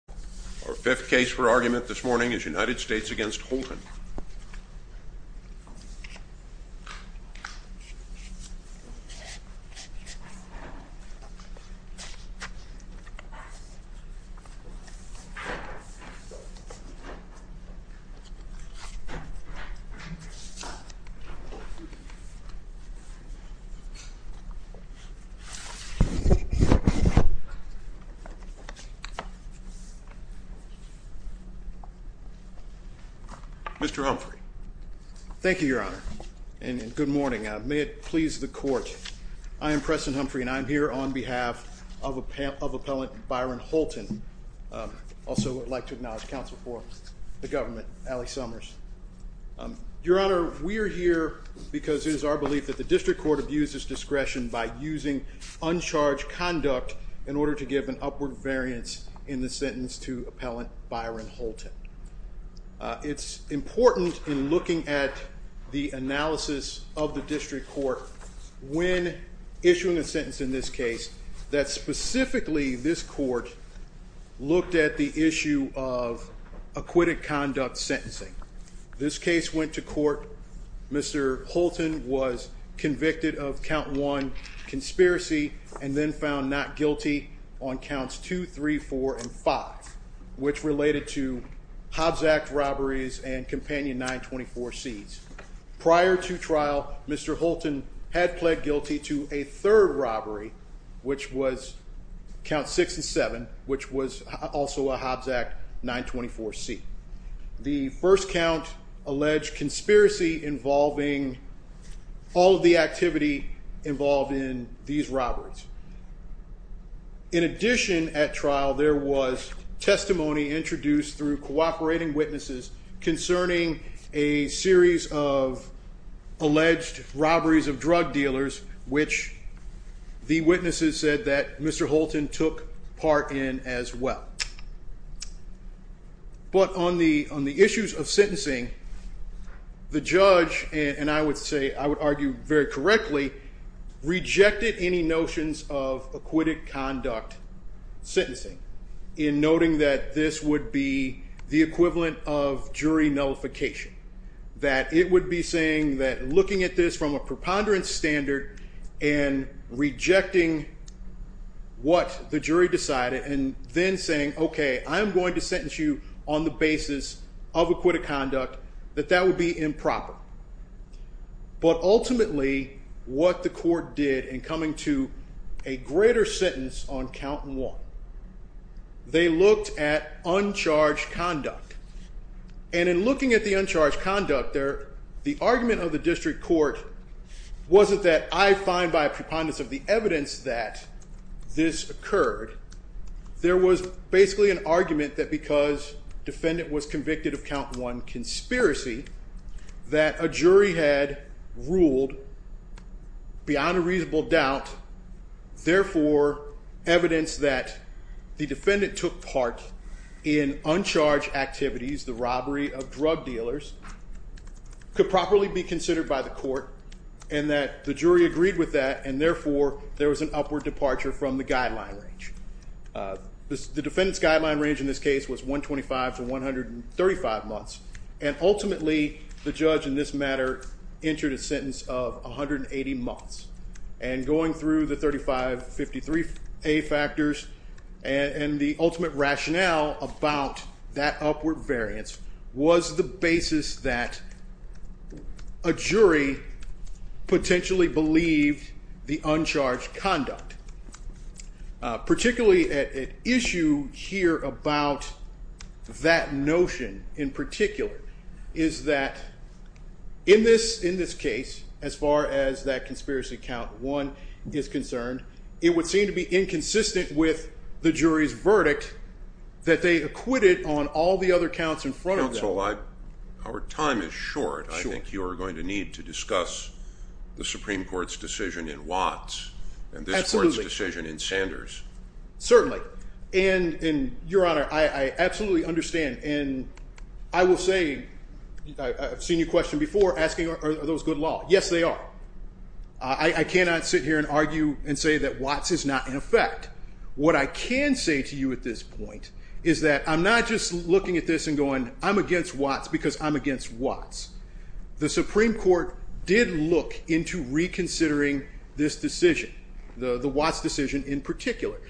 Our fifth case for argument this morning is United States v. Holton. Mr. Humphrey Thank you, Your Honor, and good morning. May it please the court, I am Preston Humphrey and I am here on behalf of appellant Byron Holton. Also would like to acknowledge counsel for the government, Allie Summers. Your Honor, we are here because it is our belief that the district court abuses discretion by using uncharged conduct in order to give an upward variance in the sentence to appellant Byron Holton. It is important in looking at the analysis of the district court when issuing a sentence in this case that specifically this court looked at the issue of acquitted conduct sentencing. This case went to court. Mr. Holton was convicted of count 1 conspiracy and then found not guilty on counts 2, 3, 4, and 5, which related to Hobbs Act robberies and companion 924 C's. Prior to trial, Mr. Holton had pled guilty to a third robbery, which was count 6 and 7, which was also a Hobbs Act 924 C. The first count alleged conspiracy involving all of the activity involved in these robberies. In addition, at trial, there was testimony introduced through cooperating witnesses concerning a series of alleged robberies of drug dealers, which the witnesses said that Mr. Holton took part in as well. But on the issues of sentencing, the judge, and I would argue very correctly, rejected any notions of acquitted conduct sentencing in noting that this would be the equivalent of jury nullification. That it would be saying that looking at this from a preponderance standard and rejecting what the jury decided and then saying, OK, I'm going to sentence you on the basis of acquitted conduct, that that would be improper. But ultimately, what the court did in coming to a greater sentence on count 1, they looked at uncharged conduct. And in looking at the uncharged conduct, the argument of the district court wasn't that I find by a preponderance of the evidence that this occurred. There was basically an argument that because defendant was convicted of count 1 conspiracy, that a jury had ruled beyond a reasonable doubt. Therefore, evidence that the defendant took part in uncharged activities, the robbery of drug dealers, could properly be considered by the court. And that the jury agreed with that, and therefore, there was an upward departure from the guideline range. The defendant's guideline range in this case was 125 to 135 months. And ultimately, the judge in this matter entered a sentence of 180 months. And going through the 3553 factors and the ultimate rationale about that upward variance was the basis that. A jury potentially believed the uncharged conduct. Particularly at issue here about that notion in particular. Is that in this in this case, as far as that conspiracy count one is concerned, it would seem to be inconsistent with the jury's verdict. That they acquitted on all the other counts in front of our time is short. I think you're going to need to discuss the Supreme Court's decision in Watts and this court's decision in Sanders. Certainly, and in your honor, I absolutely understand and I will say. I've seen you question before asking are those good law? Yes, they are. I cannot sit here and argue and say that Watts is not in effect. What I can say to you at this point is that I'm not just looking at this and going. I'm against Watts because I'm against Watts. The Supreme Court did look into reconsidering this decision. The Watts decision in particular.